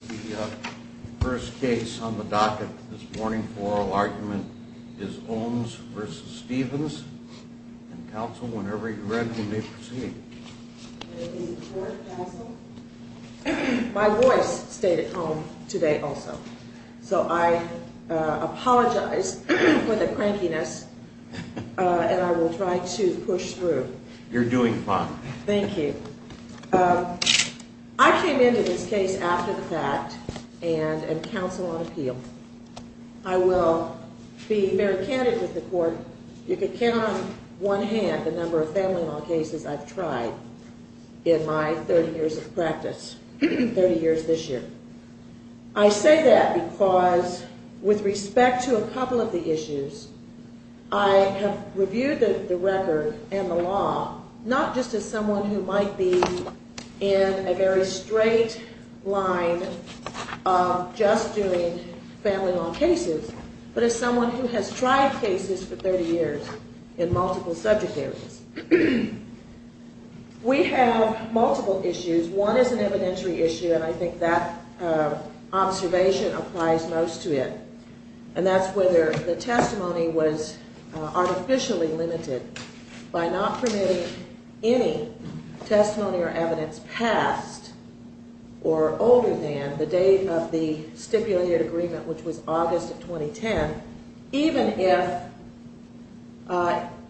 The first case on the docket this morning for oral argument is Ohms v. Stevens. Counsel, whenever you're ready, you may proceed. My voice stayed at home today also. So I apologize for the crankiness, and I will try to push through. You're doing fine. Thank you. I came into this case after the fact and am counsel on appeal. I will be very candid with the court. You can count on one hand the number of family law cases I've tried in my 30 years of practice, 30 years this year. I say that because with respect to a couple of the issues, I have reviewed the record and the law, not just as someone who might be in a very straight line of just doing family law cases, but as someone who has tried cases for 30 years in multiple subject areas. We have multiple issues. One is an evidentiary issue, and I think that observation applies most to it, and that's whether the testimony was artificially limited by not permitting any testimony or evidence past or older than the date of the stipulated agreement, which was August of 2010, even if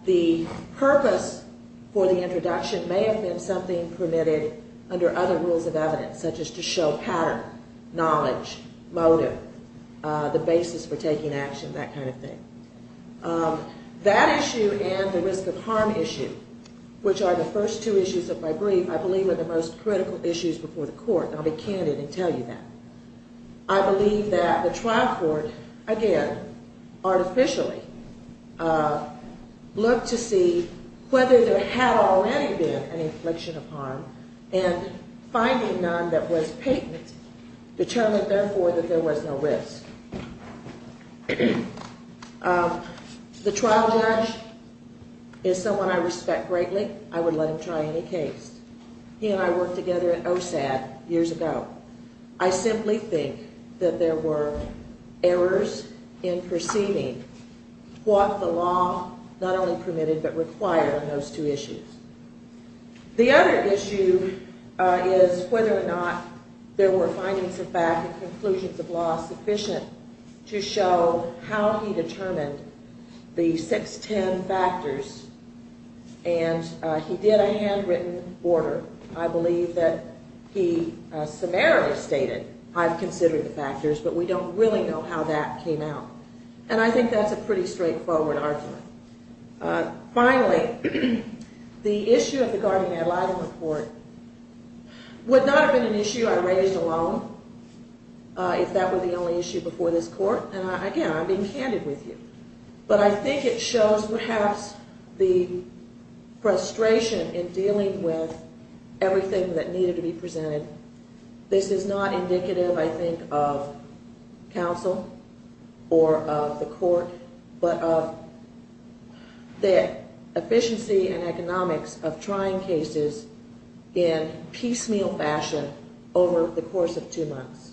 the purpose for the introduction may have been something permitted under other rules of evidence, such as to show pattern, knowledge, motive, the basis for taking action, that kind of thing. That issue and the risk of harm issue, which are the first two issues of my brief, I believe are the most critical issues before the court, and I'll be candid and tell you that. I believe that the trial court, again, artificially looked to see whether there had already been an infliction of harm and finding none that was patent determined, therefore, that there was no risk. The trial judge is someone I respect greatly. I would let him try any case. He and I worked together at OSAD years ago. I simply think that there were errors in perceiving what the law not only permitted but required in those two issues. The other issue is whether or not there were findings of fact and conclusions of law sufficient to show how he determined the 610 factors, and he did a handwritten order. I believe that he summarily stated, I've considered the factors, but we don't really know how that came out. And I think that's a pretty straightforward argument. Finally, the issue of the Gardner-Madladen report would not have been an issue I raised alone, if that were the only issue before this court, and again, I'm being candid with you. But I think it shows perhaps the frustration in dealing with everything that needed to be presented. This is not indicative, I think, of counsel or of the court, but of the efficiency and economics of trying cases in piecemeal fashion over the course of two months,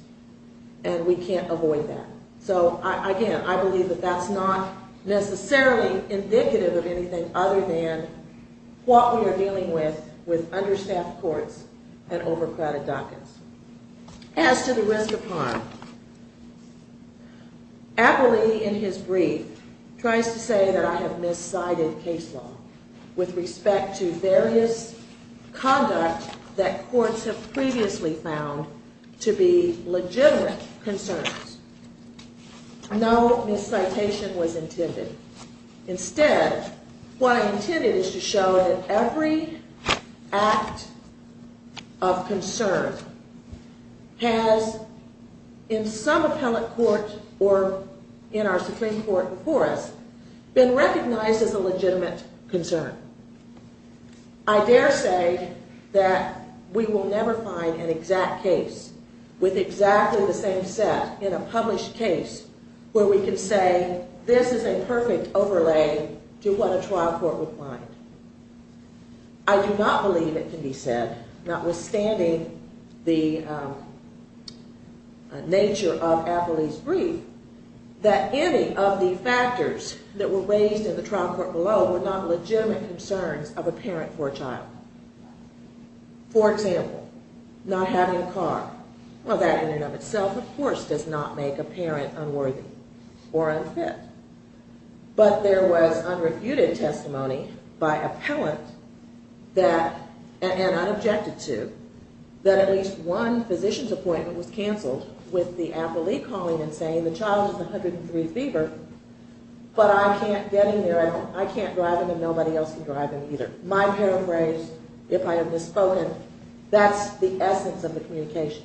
and we can't avoid that. So, again, I believe that that's not necessarily indicative of anything other than what we are dealing with, with understaffed courts and overcrowded dockets. As to the rest of harm, Appley, in his brief, tries to say that I have miscited case law with respect to various conduct that courts have previously found to be legitimate concerns. No miscitation was intended. Instead, what I intended is to show that every act of concern has, in some appellate court or in our Supreme Court course, been recognized as a legitimate concern. I dare say that we will never find an exact case with exactly the same set in a published case where we can say this is a perfect overlay to what a trial court would find. I do not believe it can be said, notwithstanding the nature of Appley's brief, that any of the factors that were raised in the trial court below were not legitimate concerns of a parent for a child. For example, not having a car. Well, that in and of itself, of course, does not make a parent unworthy or unfit. But there was unrefuted testimony by appellant that, and unobjected to, that at least one physician's appointment was canceled with the appellee calling and saying, the child has a 103 fever, but I can't get him there. I can't drive him and nobody else can drive him either. My paraphrase, if I have misspoken, that's the essence of the communication.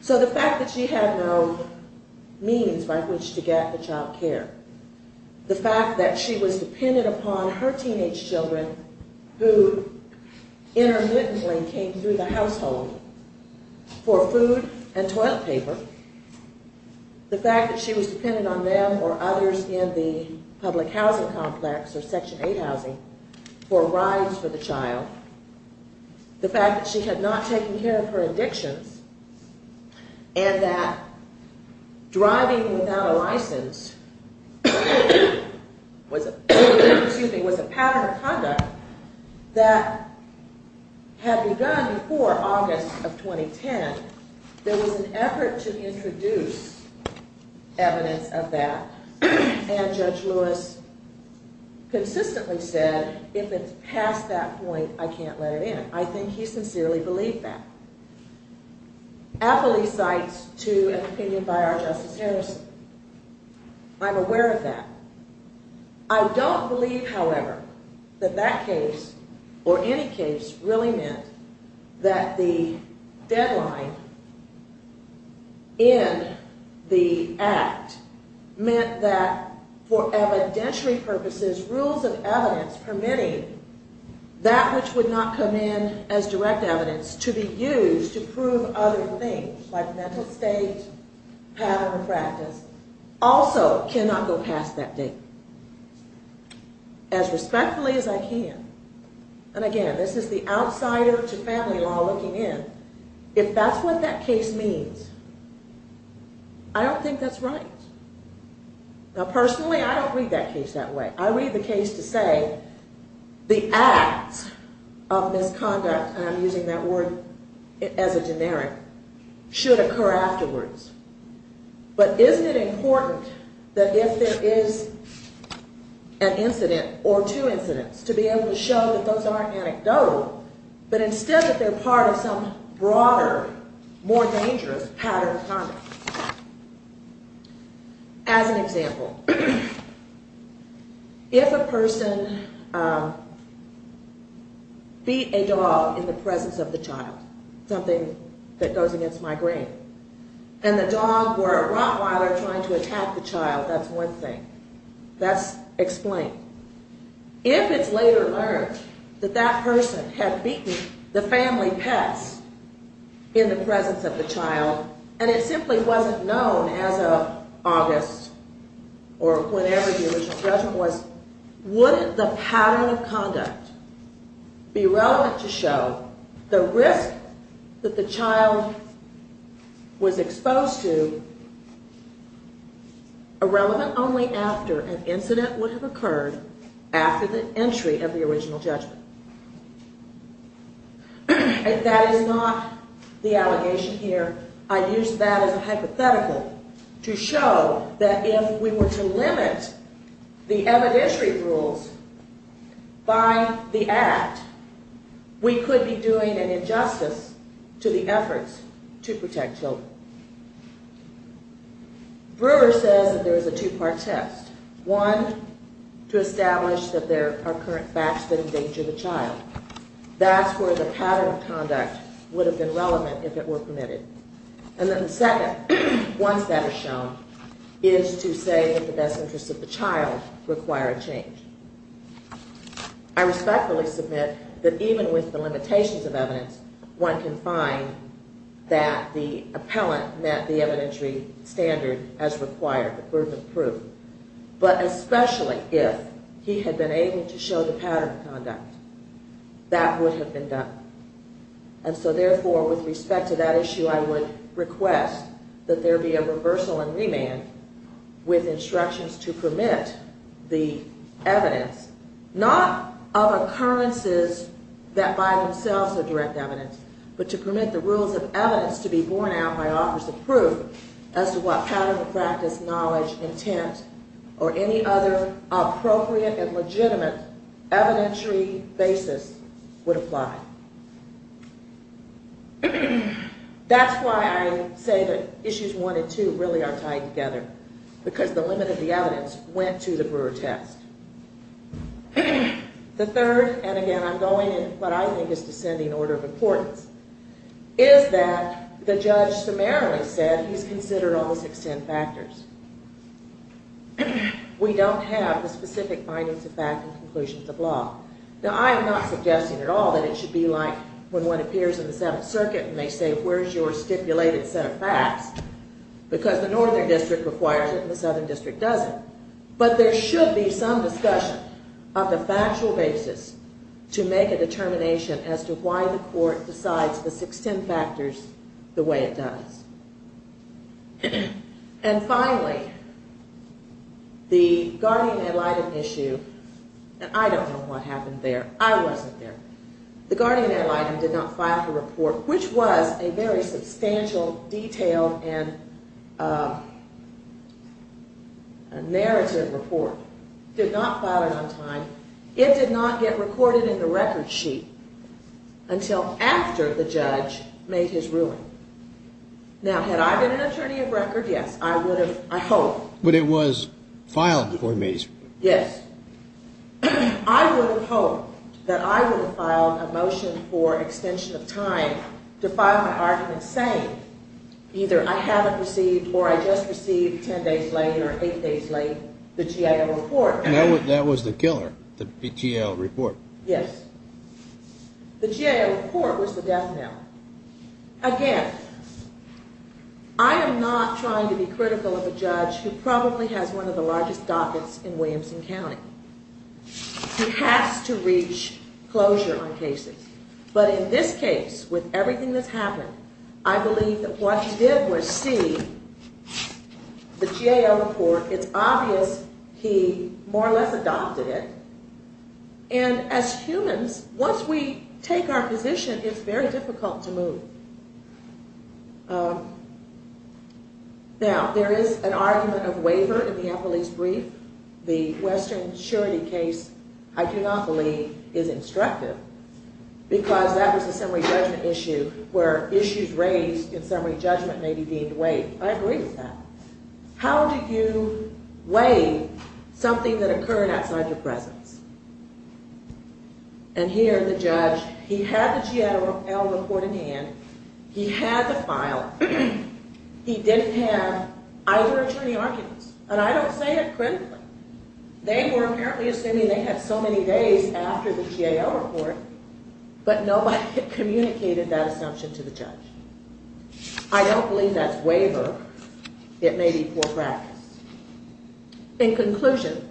So the fact that she had no means by which to get the child care, the fact that she was dependent upon her teenage children who intermittently came through the household for food and toilet paper, the fact that she was dependent on them or others in the public housing complex or Section 8 housing for rides for the child, the fact that she had not taken care of her addictions, and that driving without a license was a pattern of conduct that had begun before August of 2010, there was an effort to introduce evidence of that. And Judge Lewis consistently said, if it's past that point, I can't let it in. I think he sincerely believed that. Appellee cites, too, an opinion by our Justice Harrison. I'm aware of that. I don't believe, however, that that case, or any case, really meant that the deadline in the Act meant that for evidentiary purposes, rules of evidence permitting that which would not come in as direct evidence to be used to prove other things, like mental state, pattern of practice, also cannot go past that date. As respectfully as I can, and again, this is the outsider to family law looking in, if that's what that case means, I don't think that's right. Now, personally, I don't read that case that way. I read the case to say the acts of misconduct, and I'm using that word as a generic, should occur afterwards. But isn't it important that if there is an incident or two incidents, to be able to show that those aren't anecdotal, but instead that they're part of some broader, more dangerous pattern of conduct? As an example, if a person beat a dog in the presence of the child, something that goes against my grain, and the dog were a rottweiler trying to attack the child, that's one thing, that's explained. If it's later learned that that person had beaten the family pets in the presence of the child, and it simply wasn't known as of August, or whenever it was, the original judgment was, wouldn't the pattern of conduct be relevant to show the risk that the child was exposed to irrelevant only after an incident would have occurred after the entry of the original judgment? And that is not the allegation here. I used that as a hypothetical to show that if we were to limit the evidentiary rules by the act, we could be doing an injustice to the efforts to protect children. Brewer says that there is a two-part test. One, to establish that there are current facts that endanger the child. That's where the pattern of conduct would have been relevant if it were permitted. And then the second, once that is shown, is to say that the best interests of the child require a change. I respectfully submit that even with the limitations of evidence, one can find that the appellant met the evidentiary standard as required, the burden of proof. But especially if he had been able to show the pattern of conduct, that would have been done. And so therefore, with respect to that issue, I would request that there be a reversal and remand with instructions to permit the evidence, not of occurrences that by themselves are direct evidence, but to permit the rules of evidence to be borne out by offers of proof as to what pattern of practice, knowledge, intent, or any other appropriate and legitimate evidentiary basis would apply. That's why I say that issues one and two really are tied together, because the limit of the evidence went to the brewer test. The third, and again I'm going in what I think is descending order of importance, is that the judge summarily said he's considered all the six ten factors. We don't have the specific findings of fact and conclusions of law. Now I am not suggesting at all that it should be like when one appears in the Seventh Circuit and they say, where's your stipulated set of facts? Because the Northern District requires it and the Southern District doesn't. But there should be some discussion of the factual basis to make a determination as to why the court decides the six ten factors the way it does. And finally, the guardian ad litem issue, and I don't know what happened there. I wasn't there. The guardian ad litem did not file the report, which was a very substantial, detailed, and narrative report. Did not file it on time. It did not get recorded in the record sheet until after the judge made his ruling. Now had I been an attorney of record, yes, I would have, I hope. But it was filed before Mays. Yes. I would have hoped that I would have filed a motion for extension of time to file my argument saying either I haven't received or I just received ten days late or eight days late the GAO report. That was the killer, the GAO report. Yes. The GAO report was the death knell. Again, I am not trying to be critical of a judge who probably has one of the largest dockets in Williamson County. He has to reach closure on cases. But in this case, with everything that's happened, I believe that what he did was see the GAO report. It's obvious he more or less adopted it. And as humans, once we take our position, it's very difficult to move. Now, there is an argument of waiver in the Apple East brief. The Western surety case, I do not believe, is instructive because that was a summary judgment issue where issues raised in summary judgment may be deemed waived. I agree with that. How do you waive something that occurred outside your presence? And here, the judge, he had the GAO report in hand. He had the file. He didn't have either attorney arguments. And I don't say it critically. They were apparently assuming they had so many days after the GAO report, but nobody had communicated that assumption to the judge. I don't believe that's waiver. It may be poor practice. In conclusion,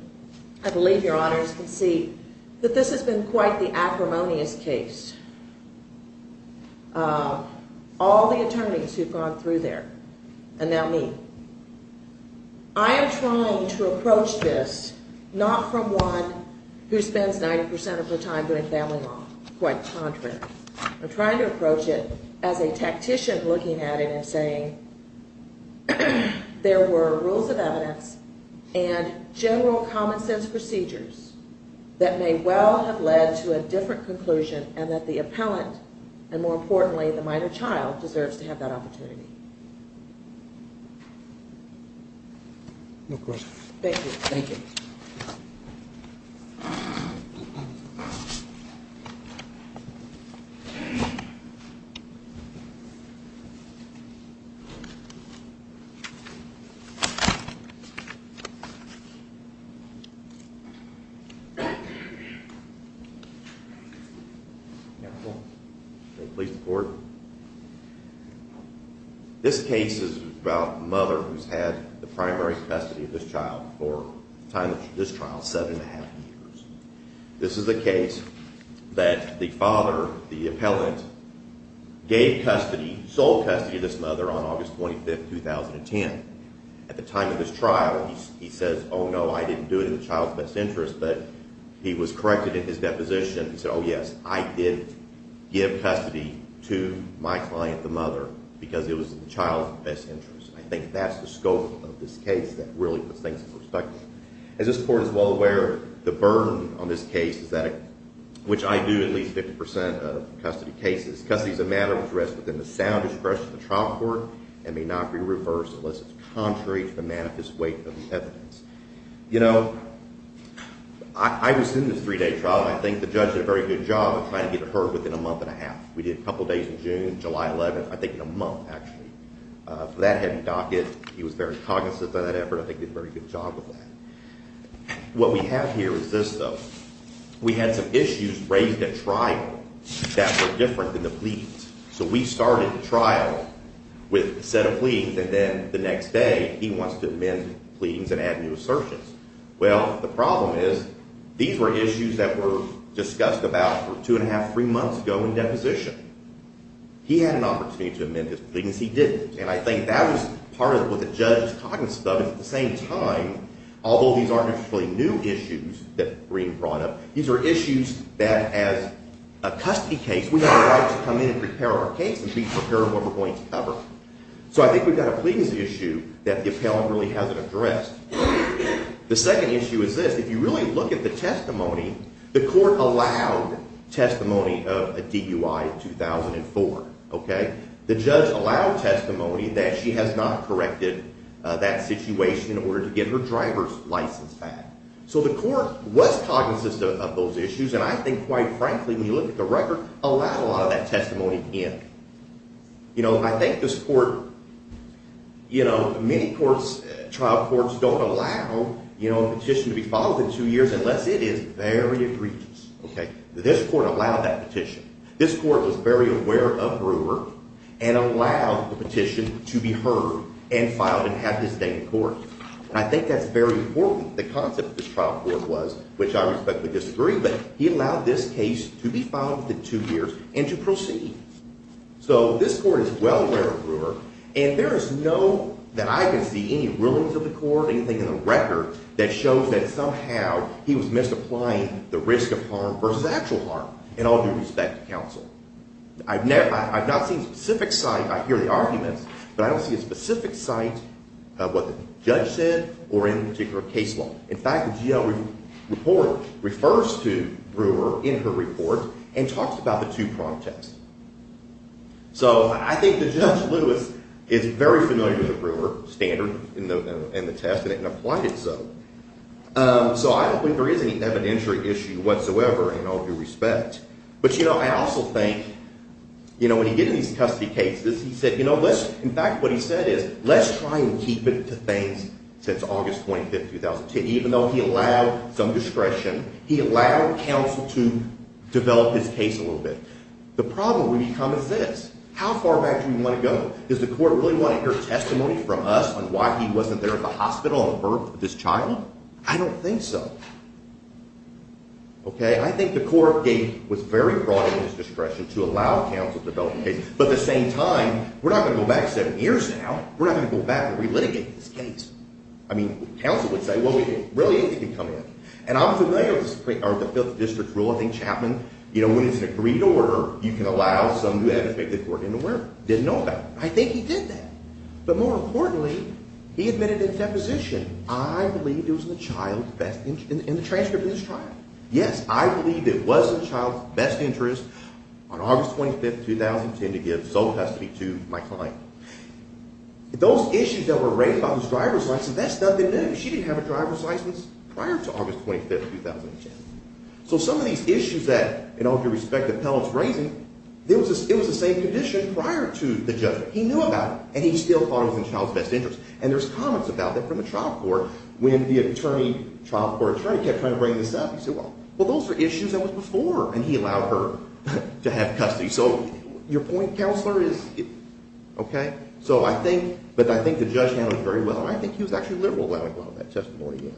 I believe your honors can see that this has been quite the acrimonious case. All the attorneys who've gone through there, and now me. I am trying to approach this not from one who spends 90% of their time doing family law. Quite the contrary. I'm trying to approach it as a tactician looking at it and saying there were rules of evidence and general common sense procedures that may well have led to a different conclusion and that the appellant, and more importantly, the minor child, deserves to have that opportunity. No questions. Thank you. Thank you. May it please the court. This case is about a mother who's had the primary spasticity of this child for the time of this trial, seven and a half years. This is a case that the father, the appellant, gave custody, sold custody of this mother on August 25th, 2010. At the time of this trial, he says, oh no, I didn't do it in the child's best interest, but he was corrected in his deposition. He said, oh yes, I did give custody to my client, the mother, because it was in the child's best interest. I think that's the scope of this case that really puts things in perspective. As this court is well aware, the burden on this case is that, which I do, at least 50% of custody cases, custody is a matter of arrest within the sound discretion of the trial court and may not be reversed unless it's contrary to the manifest weight of the evidence. You know, I was in this three-day trial, and I think the judge did a very good job of trying to get it heard within a month and a half. We did a couple days in June, July 11th, I think in a month, actually. For that heavy docket, he was very cognizant of that effort. I think he did a very good job of that. What we have here is this, though. We had some issues raised at trial that were different than the pleadings. So we started the trial with a set of pleadings, and then the next day he wants to amend the pleadings and add new assertions. Well, the problem is, these were issues that were discussed about for two and a half, three months ago in deposition. He had an opportunity to amend his pleadings. He didn't, and I think that was part of what the judge's cognizance of it was that at the same time, although these aren't actually new issues that Green brought up, these are issues that, as a custody case, we have a right to come in and prepare our case and be prepared for what we're going to cover. So I think we've got a pleadings issue that the appellant really hasn't addressed. The second issue is this. If you really look at the testimony, the court allowed testimony of a DUI in 2004. The judge allowed testimony that she has not corrected that situation in order to get her driver's license back. So the court was cognizant of those issues, and I think, quite frankly, when you look at the record, allowed a lot of that testimony in. I think this court, you know, many trial courts don't allow a petition to be followed for two years unless it is very egregious. This court allowed that petition. This court was very aware of Brewer and allowed the petition to be heard and filed and have this date in court. And I think that's very important. The concept of this trial court was, which I respectfully disagree, but he allowed this case to be filed within two years and to proceed. So this court is well aware of Brewer, and there is no, that I can see, any rulings of the court, anything in the record that shows that somehow he was misapplying the risk of harm versus actual harm in all due respect. I've never, I've not seen a specific site, I hear the arguments, but I don't see a specific site of what the judge said or in a particular case law. In fact, the GL report refers to Brewer in her report and talks about the two prompt tests. So I think that Judge Lewis is very familiar with the Brewer standard in the test and applied it so. So I don't think there is any evidentiary issue whatsoever in all due respect. But you know, I also think, you know, when he did these custody cases, he said, you know, let's, in fact, what he said is, let's try and keep it to things since August 25th, 2010. Even though he allowed some discretion, he allowed counsel to develop his case a little bit. The problem we become is this. How far back do we want to go? Does the court really want to hear testimony from us on why he wasn't there at the hospital on the birth of his child? I don't think so. Okay, I think the court gave, was very broad in its discretion to allow counsel to develop a case. But at the same time, we're not going to go back seven years now. We're not going to go back and relitigate this case. I mean, counsel would say, well, we didn't. Really, anything can come in. And I'm familiar with the Fifth District's rule. I think Chapman, you know, when it's an agreed to order, you can allow someone to do that. I think the court didn't know that. I think he did that. But more importantly, he admitted in deposition, I believe it was in the child's best interest, in the transcript of his trial. Yes, I believe it was in the child's best interest on August 25, 2010, to give sole custody to my client. Those issues that were raised about his driver's license, that's nothing new. She didn't have a driver's license prior to August 25, 2010. So some of these issues that, in all due respect, the appellant's raising, it was the same condition prior to the judgment. He knew about it, and he still thought it was in the child's best interest. And there's comments about that from the trial court. When the trial court attorney kept trying to bring this up, he said, well, those are issues that were before, and he allowed her to have custody. So your point, Counselor, is okay. So I think, but I think the judge handled it very well. And I think he was actually liberal when he brought up that testimony.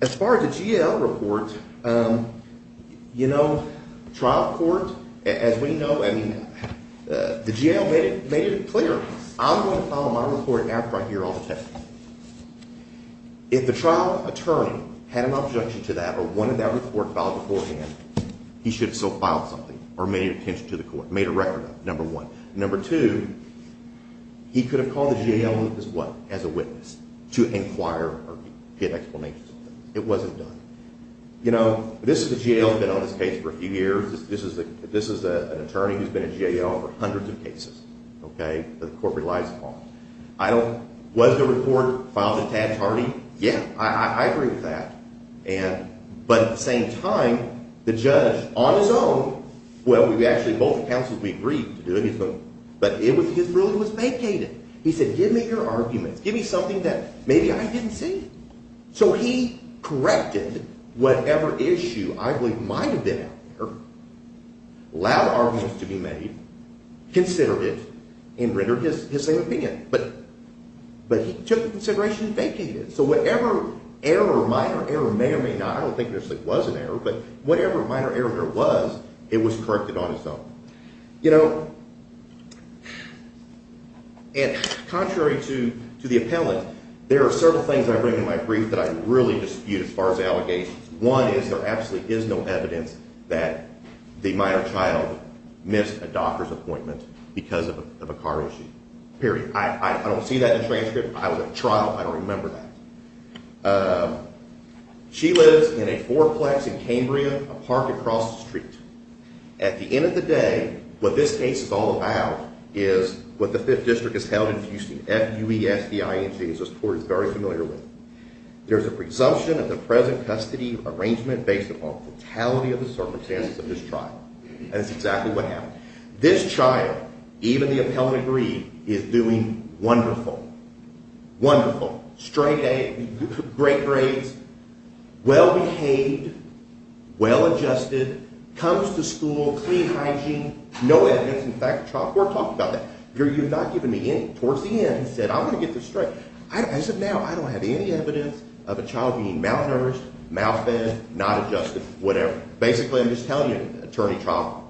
As far as the GAO report, you know, trial court, as we know, I mean, the GAO made it clear. I'm going to file my report after I hear all the testimony. If the trial attorney had an objection to that or wanted that report filed beforehand, he should have still filed something or made it to the court, made a record of it, number one. Number two, he could have called the GAO as what? As a witness to inquire or get explanations. It wasn't done. You know, this is the GAO that's been on this case for a few years. This is an attorney who's been at GAO for hundreds of cases, okay, that the court relies upon. I don't, was the report filed at Tad's party? Yeah, I agree with that. And, but at the same time, the judge, on his own, well, we actually, both counsels, we agreed to do it. But it was, his ruling was vacated. He said, give me your arguments. Give me something that maybe I didn't see. So he corrected whatever issue I believe might have been out there, allowed arguments to be made, considered it, and rendered his same opinion. But he took the consideration of vacating it. So whatever error, minor error, may or may not, I don't think there was an error, but whatever minor error there was, it was corrected on its own. You know, and contrary to the appellant, there are several things I bring in my brief that I really dispute as far as allegations. One is there absolutely is no evidence that the minor child missed a doctor's appointment because of a car issue, period. I don't see that in the transcript. I was at trial. I don't remember that. She lives in a fourplex in Cambria, a park across the street. At the end of the day, what this case is all about is what the Fifth District has held in Houston, F-U-E-S-T-I-N-G, as this court is very familiar with. There's a presumption of the present custody arrangement based upon fatality of the circumstances of this trial. That's exactly what happened. This child, even the appellant agreed, is doing wonderful, wonderful, straight A, great grades, well-behaved, well-adjusted, comes to school, clean hygiene, no evidence. In fact, the trial court talked about that. You're not giving me any. Towards the end, it said, I'm going to get this straight. I said, now, I don't have any evidence of a child being malnourished, malfed, not adjusted, whatever. Basically, I'm just telling you, Attorney Trump,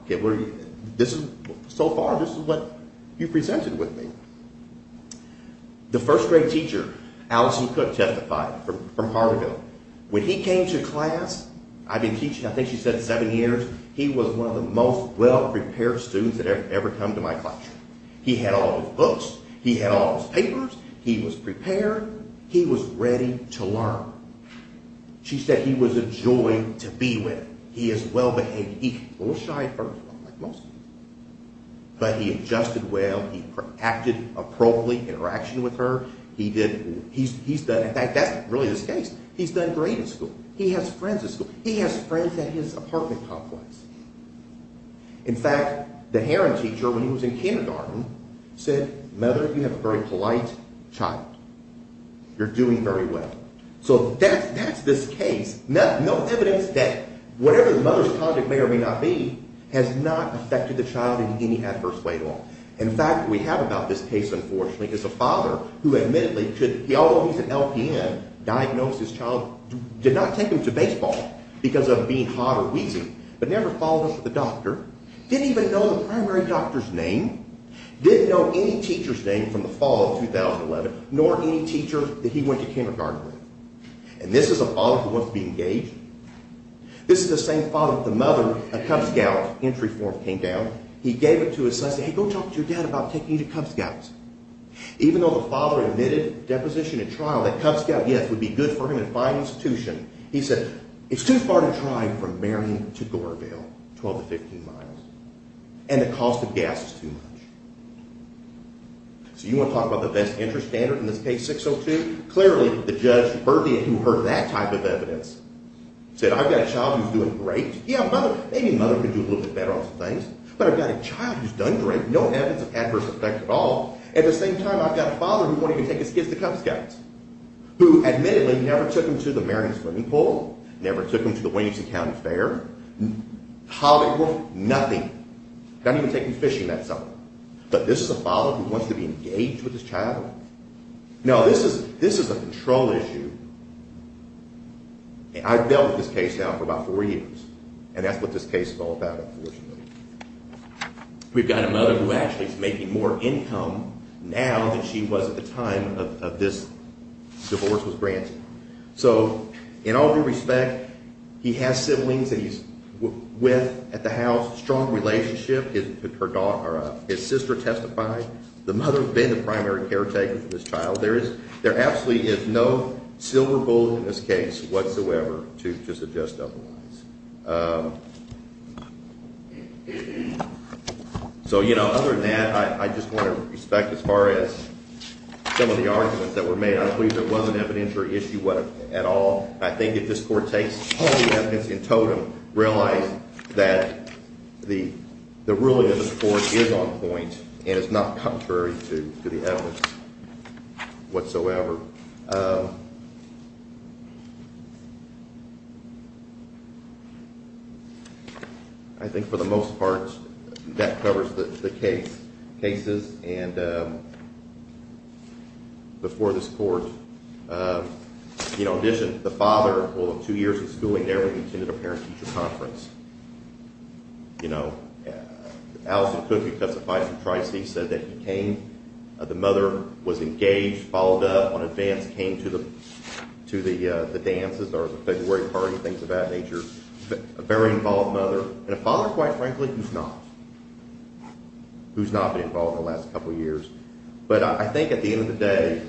so far, this is what you've presented with me. The first grade teacher, Allison Cook, testified from Hartville. When he came to class, I'd been teaching, I think she said, seven years. He was one of the most well-prepared students that had ever come to my classroom. He had all his books. He had all his papers. He was prepared. He was ready to learn. She said he was a joy to be with. He was well-behaved. He was a little shy at first, like most people, but he adjusted well. He acted appropriately, interacted with her. In fact, that's really the case. He's done great in school. He has friends at school. He has friends at his apartment complex. In fact, the Heron teacher, when he was in kindergarten, said, Mother, you have a very polite child. You're doing very well. So that's this case. There's no evidence that whatever the mother's conduct may or may not be has not affected the child in any adverse way at all. In fact, what we have about this case, unfortunately, is a father who admittedly, although he's an LPN, diagnosed his child, did not take him to baseball because of being hot or wheezy, but never followed up with a doctor, didn't even know the primary doctor's name, didn't know any teacher's name from the fall of 2011, nor any teacher that he went to kindergarten with. And this is a father who wants to be engaged. This is the same father that the mother, a Cub Scout, entry form came down. He gave it to his son and said, Hey, go talk to your dad about taking you to Cub Scouts. Even though the father admitted deposition in trial, that Cub Scout, yes, would be good for him in a fine institution. He said, it's too far to drive from Marion to Goreville, 12 to 15 miles. And the cost of gas is too much. So you want to talk about the best interest standard in this case, 602? Clearly, the judge Berthia, who heard that type of evidence, said, I've got a child who's doing great. Yeah, maybe a mother can do a little bit better on some things, but I've got a child who's done great. No evidence of adverse effect at all. At the same time, I've got a father who won't even take his kids to Cub Scouts, who admittedly never took him to the Marion swimming pool, never took him to the Williamson County Fair, Holiday World, nothing. Didn't even take him fishing that summer. But this is a father who wants to be engaged with his child. Now, this is a control issue. I've dealt with this case now for about four years. And that's what this case is all about, unfortunately. We've got a mother who actually is making more income now than she was at the time of this divorce was granted. So in all due respect, he has siblings that he's with at the house, strong relationship. His sister testified. The mother has been the primary caretaker for this child. There absolutely is no silver bullet in this case whatsoever to suggest otherwise. So, you know, other than that, I just want to respect, as far as some of the arguments that were made, I'm pleased there wasn't an evidentiary issue at all. I think if this Court takes all the evidence in totem, realize that the ruling of this Court is on point and is not contrary to the evidence whatsoever. I think for the most part, that covers the case, cases. And before this Court, you know, in addition, the father of two years of schooling never attended a parent-teacher conference. You know, Alison Cooke, who testified for Tricy, said that he came, the mother was engaged, followed up on advance, came to the dances or the February party, things of that nature. A very involved mother. And a father, quite frankly, who's not. Who's not been involved in the last couple of years. But I think at the end of the day,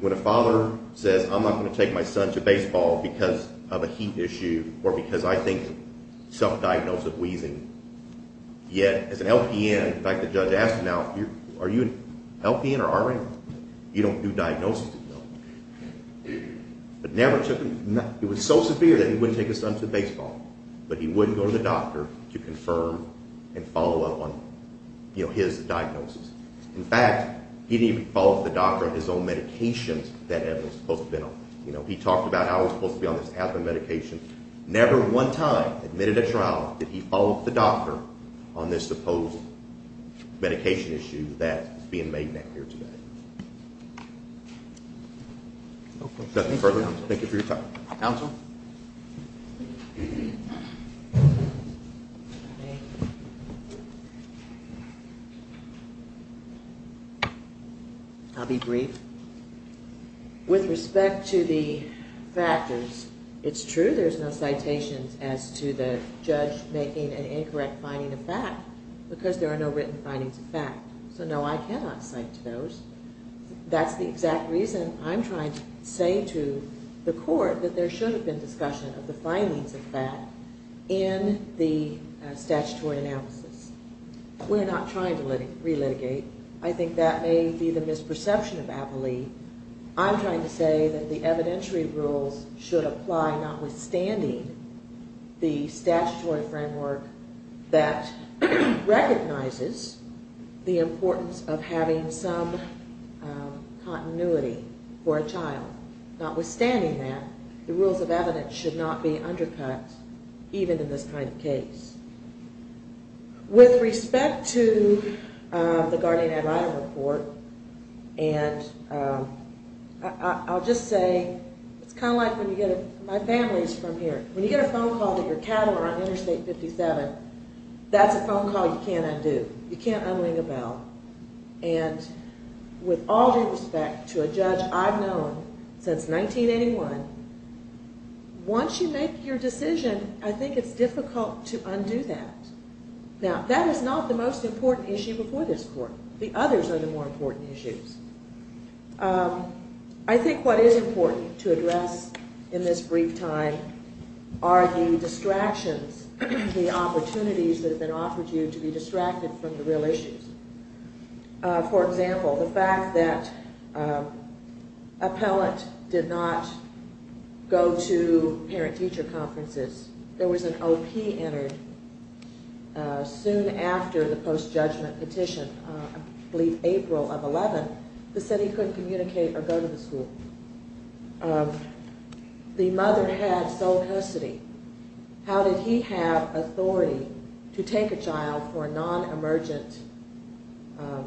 when a father says, I'm not going to take my son to baseball because of a heat issue or because I think self-diagnosis of wheezing. Yet, as an LPN, like the judge asked now, are you an LPN or RN? You don't do diagnoses anymore. But never took him, it was so severe that he wouldn't take his son to baseball. But he wouldn't go to the doctor to confirm and follow up on, you know, his diagnosis. In fact, he didn't even follow up with the doctor on his own medications that evidence was supposed to have been on. You know, he talked about how it was supposed to be on this asthma medication. Never one time admitted at trial did he follow up with the doctor on this supposed medication issue that is being made here today. Nothing further. Thank you for your time. Counsel? I'll be brief. With respect to the factors, it's true there's no citations as to the judge making an incorrect finding of fact because there are no written findings of fact. So no, I cannot cite those. That's the exact reason I'm trying to say to the court that there should have been discussion of the findings of fact in the statutory analysis. We're not trying to re-litigate. I think that may be the misperception of appellee. I'm trying to say that the evidentiary rules should apply notwithstanding the statutory framework that recognizes the importance of having some continuity for a child. Notwithstanding that, the rules of evidence should not be undercut even in this kind of case. With respect to the Guardian Ad Libra report and I'll just say, it's kind of like when you get a... My family is from here. When you get a phone call that your cattle are on Interstate 57, that's a phone call you can't undo. You can't un-ring a bell. And with all due respect to a judge I've known since 1981, once you make your decision, I think it's difficult to undo that. Now, that is not the most important issue before this court. But it is one of the most important issues. I think what is important to address in this brief time are the distractions, the opportunities that have been offered to you to be distracted from the real issues. For example, the fact that appellate did not go to parent-teacher conferences. There was an OP entered soon after the post-judgment petition, I believe April of 11, that said he couldn't communicate or go to the school. The mother had sole custody. How did he have authority to take a child for a non-emergent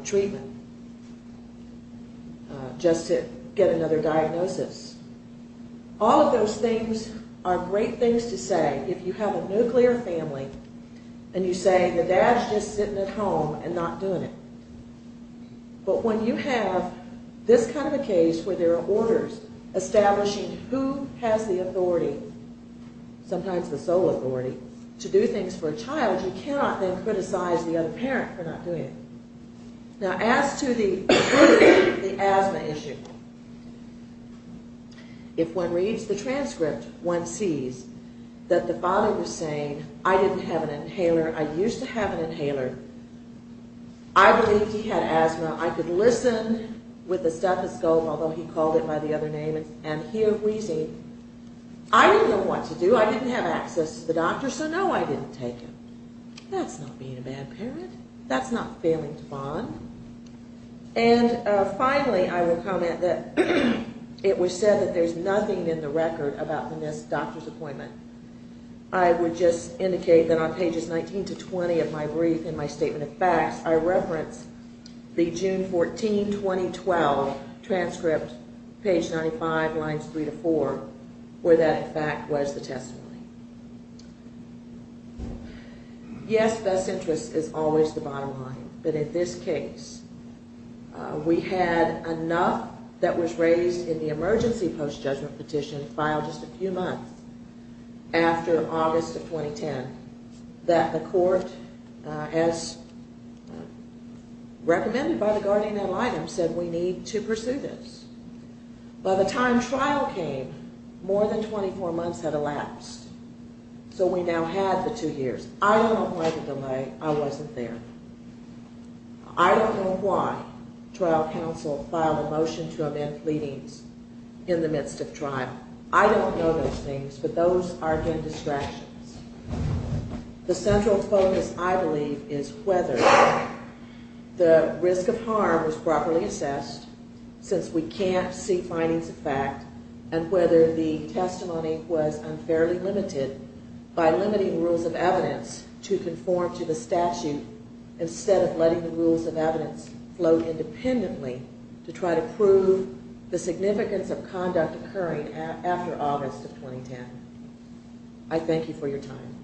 treatment just to get another diagnosis? All of those things are great things to say if you have a nuclear family and you say, the dad's just sitting at home and not doing it. But when you have this kind of a case where there are orders establishing who has the authority, sometimes the sole authority, to do things for a child, you cannot then criticize the other parent for not doing it. Now, as to the asthma issue, if one reads the transcript, one sees that the father was saying, I didn't have an inhaler. I used to have an inhaler. I believed he had asthma. I could listen with a stethoscope, although he called it by the other name, and hear wheezing. I didn't know what to do. I didn't have access to the doctor, so no, I didn't take him. That's not being a bad parent. That's not failing to bond. And finally, I will comment that it was said that there's nothing in the record that doesn't indicate that on pages 19 to 20 of my brief and my statement of facts, I reference the June 14, 2012, transcript, page 95, lines 3 to 4, where that, in fact, was the testimony. Yes, thus interest is always the bottom line, but in this case, we had enough that was raised in the emergency post-judgment petition filed just a few months after the election that the court, as recommended by the guardian ad litem, said we need to pursue this. By the time trial came, more than 24 months had elapsed, so we now had the two years. I don't know why the delay. I wasn't there. I don't know why trial counsel filed a motion to amend pleadings in the midst of trial. I don't know those things, but the central focus, I believe, is whether the risk of harm was properly assessed, since we can't see findings of fact, and whether the testimony was unfairly limited by limiting rules of evidence to conform to the statute instead of letting the rules of evidence float independently to try to prove the significance of conduct occurring after August of 2010. I thank you for your time.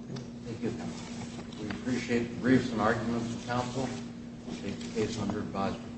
Thank you. We appreciate the briefs and arguments of counsel to take the case under advisement.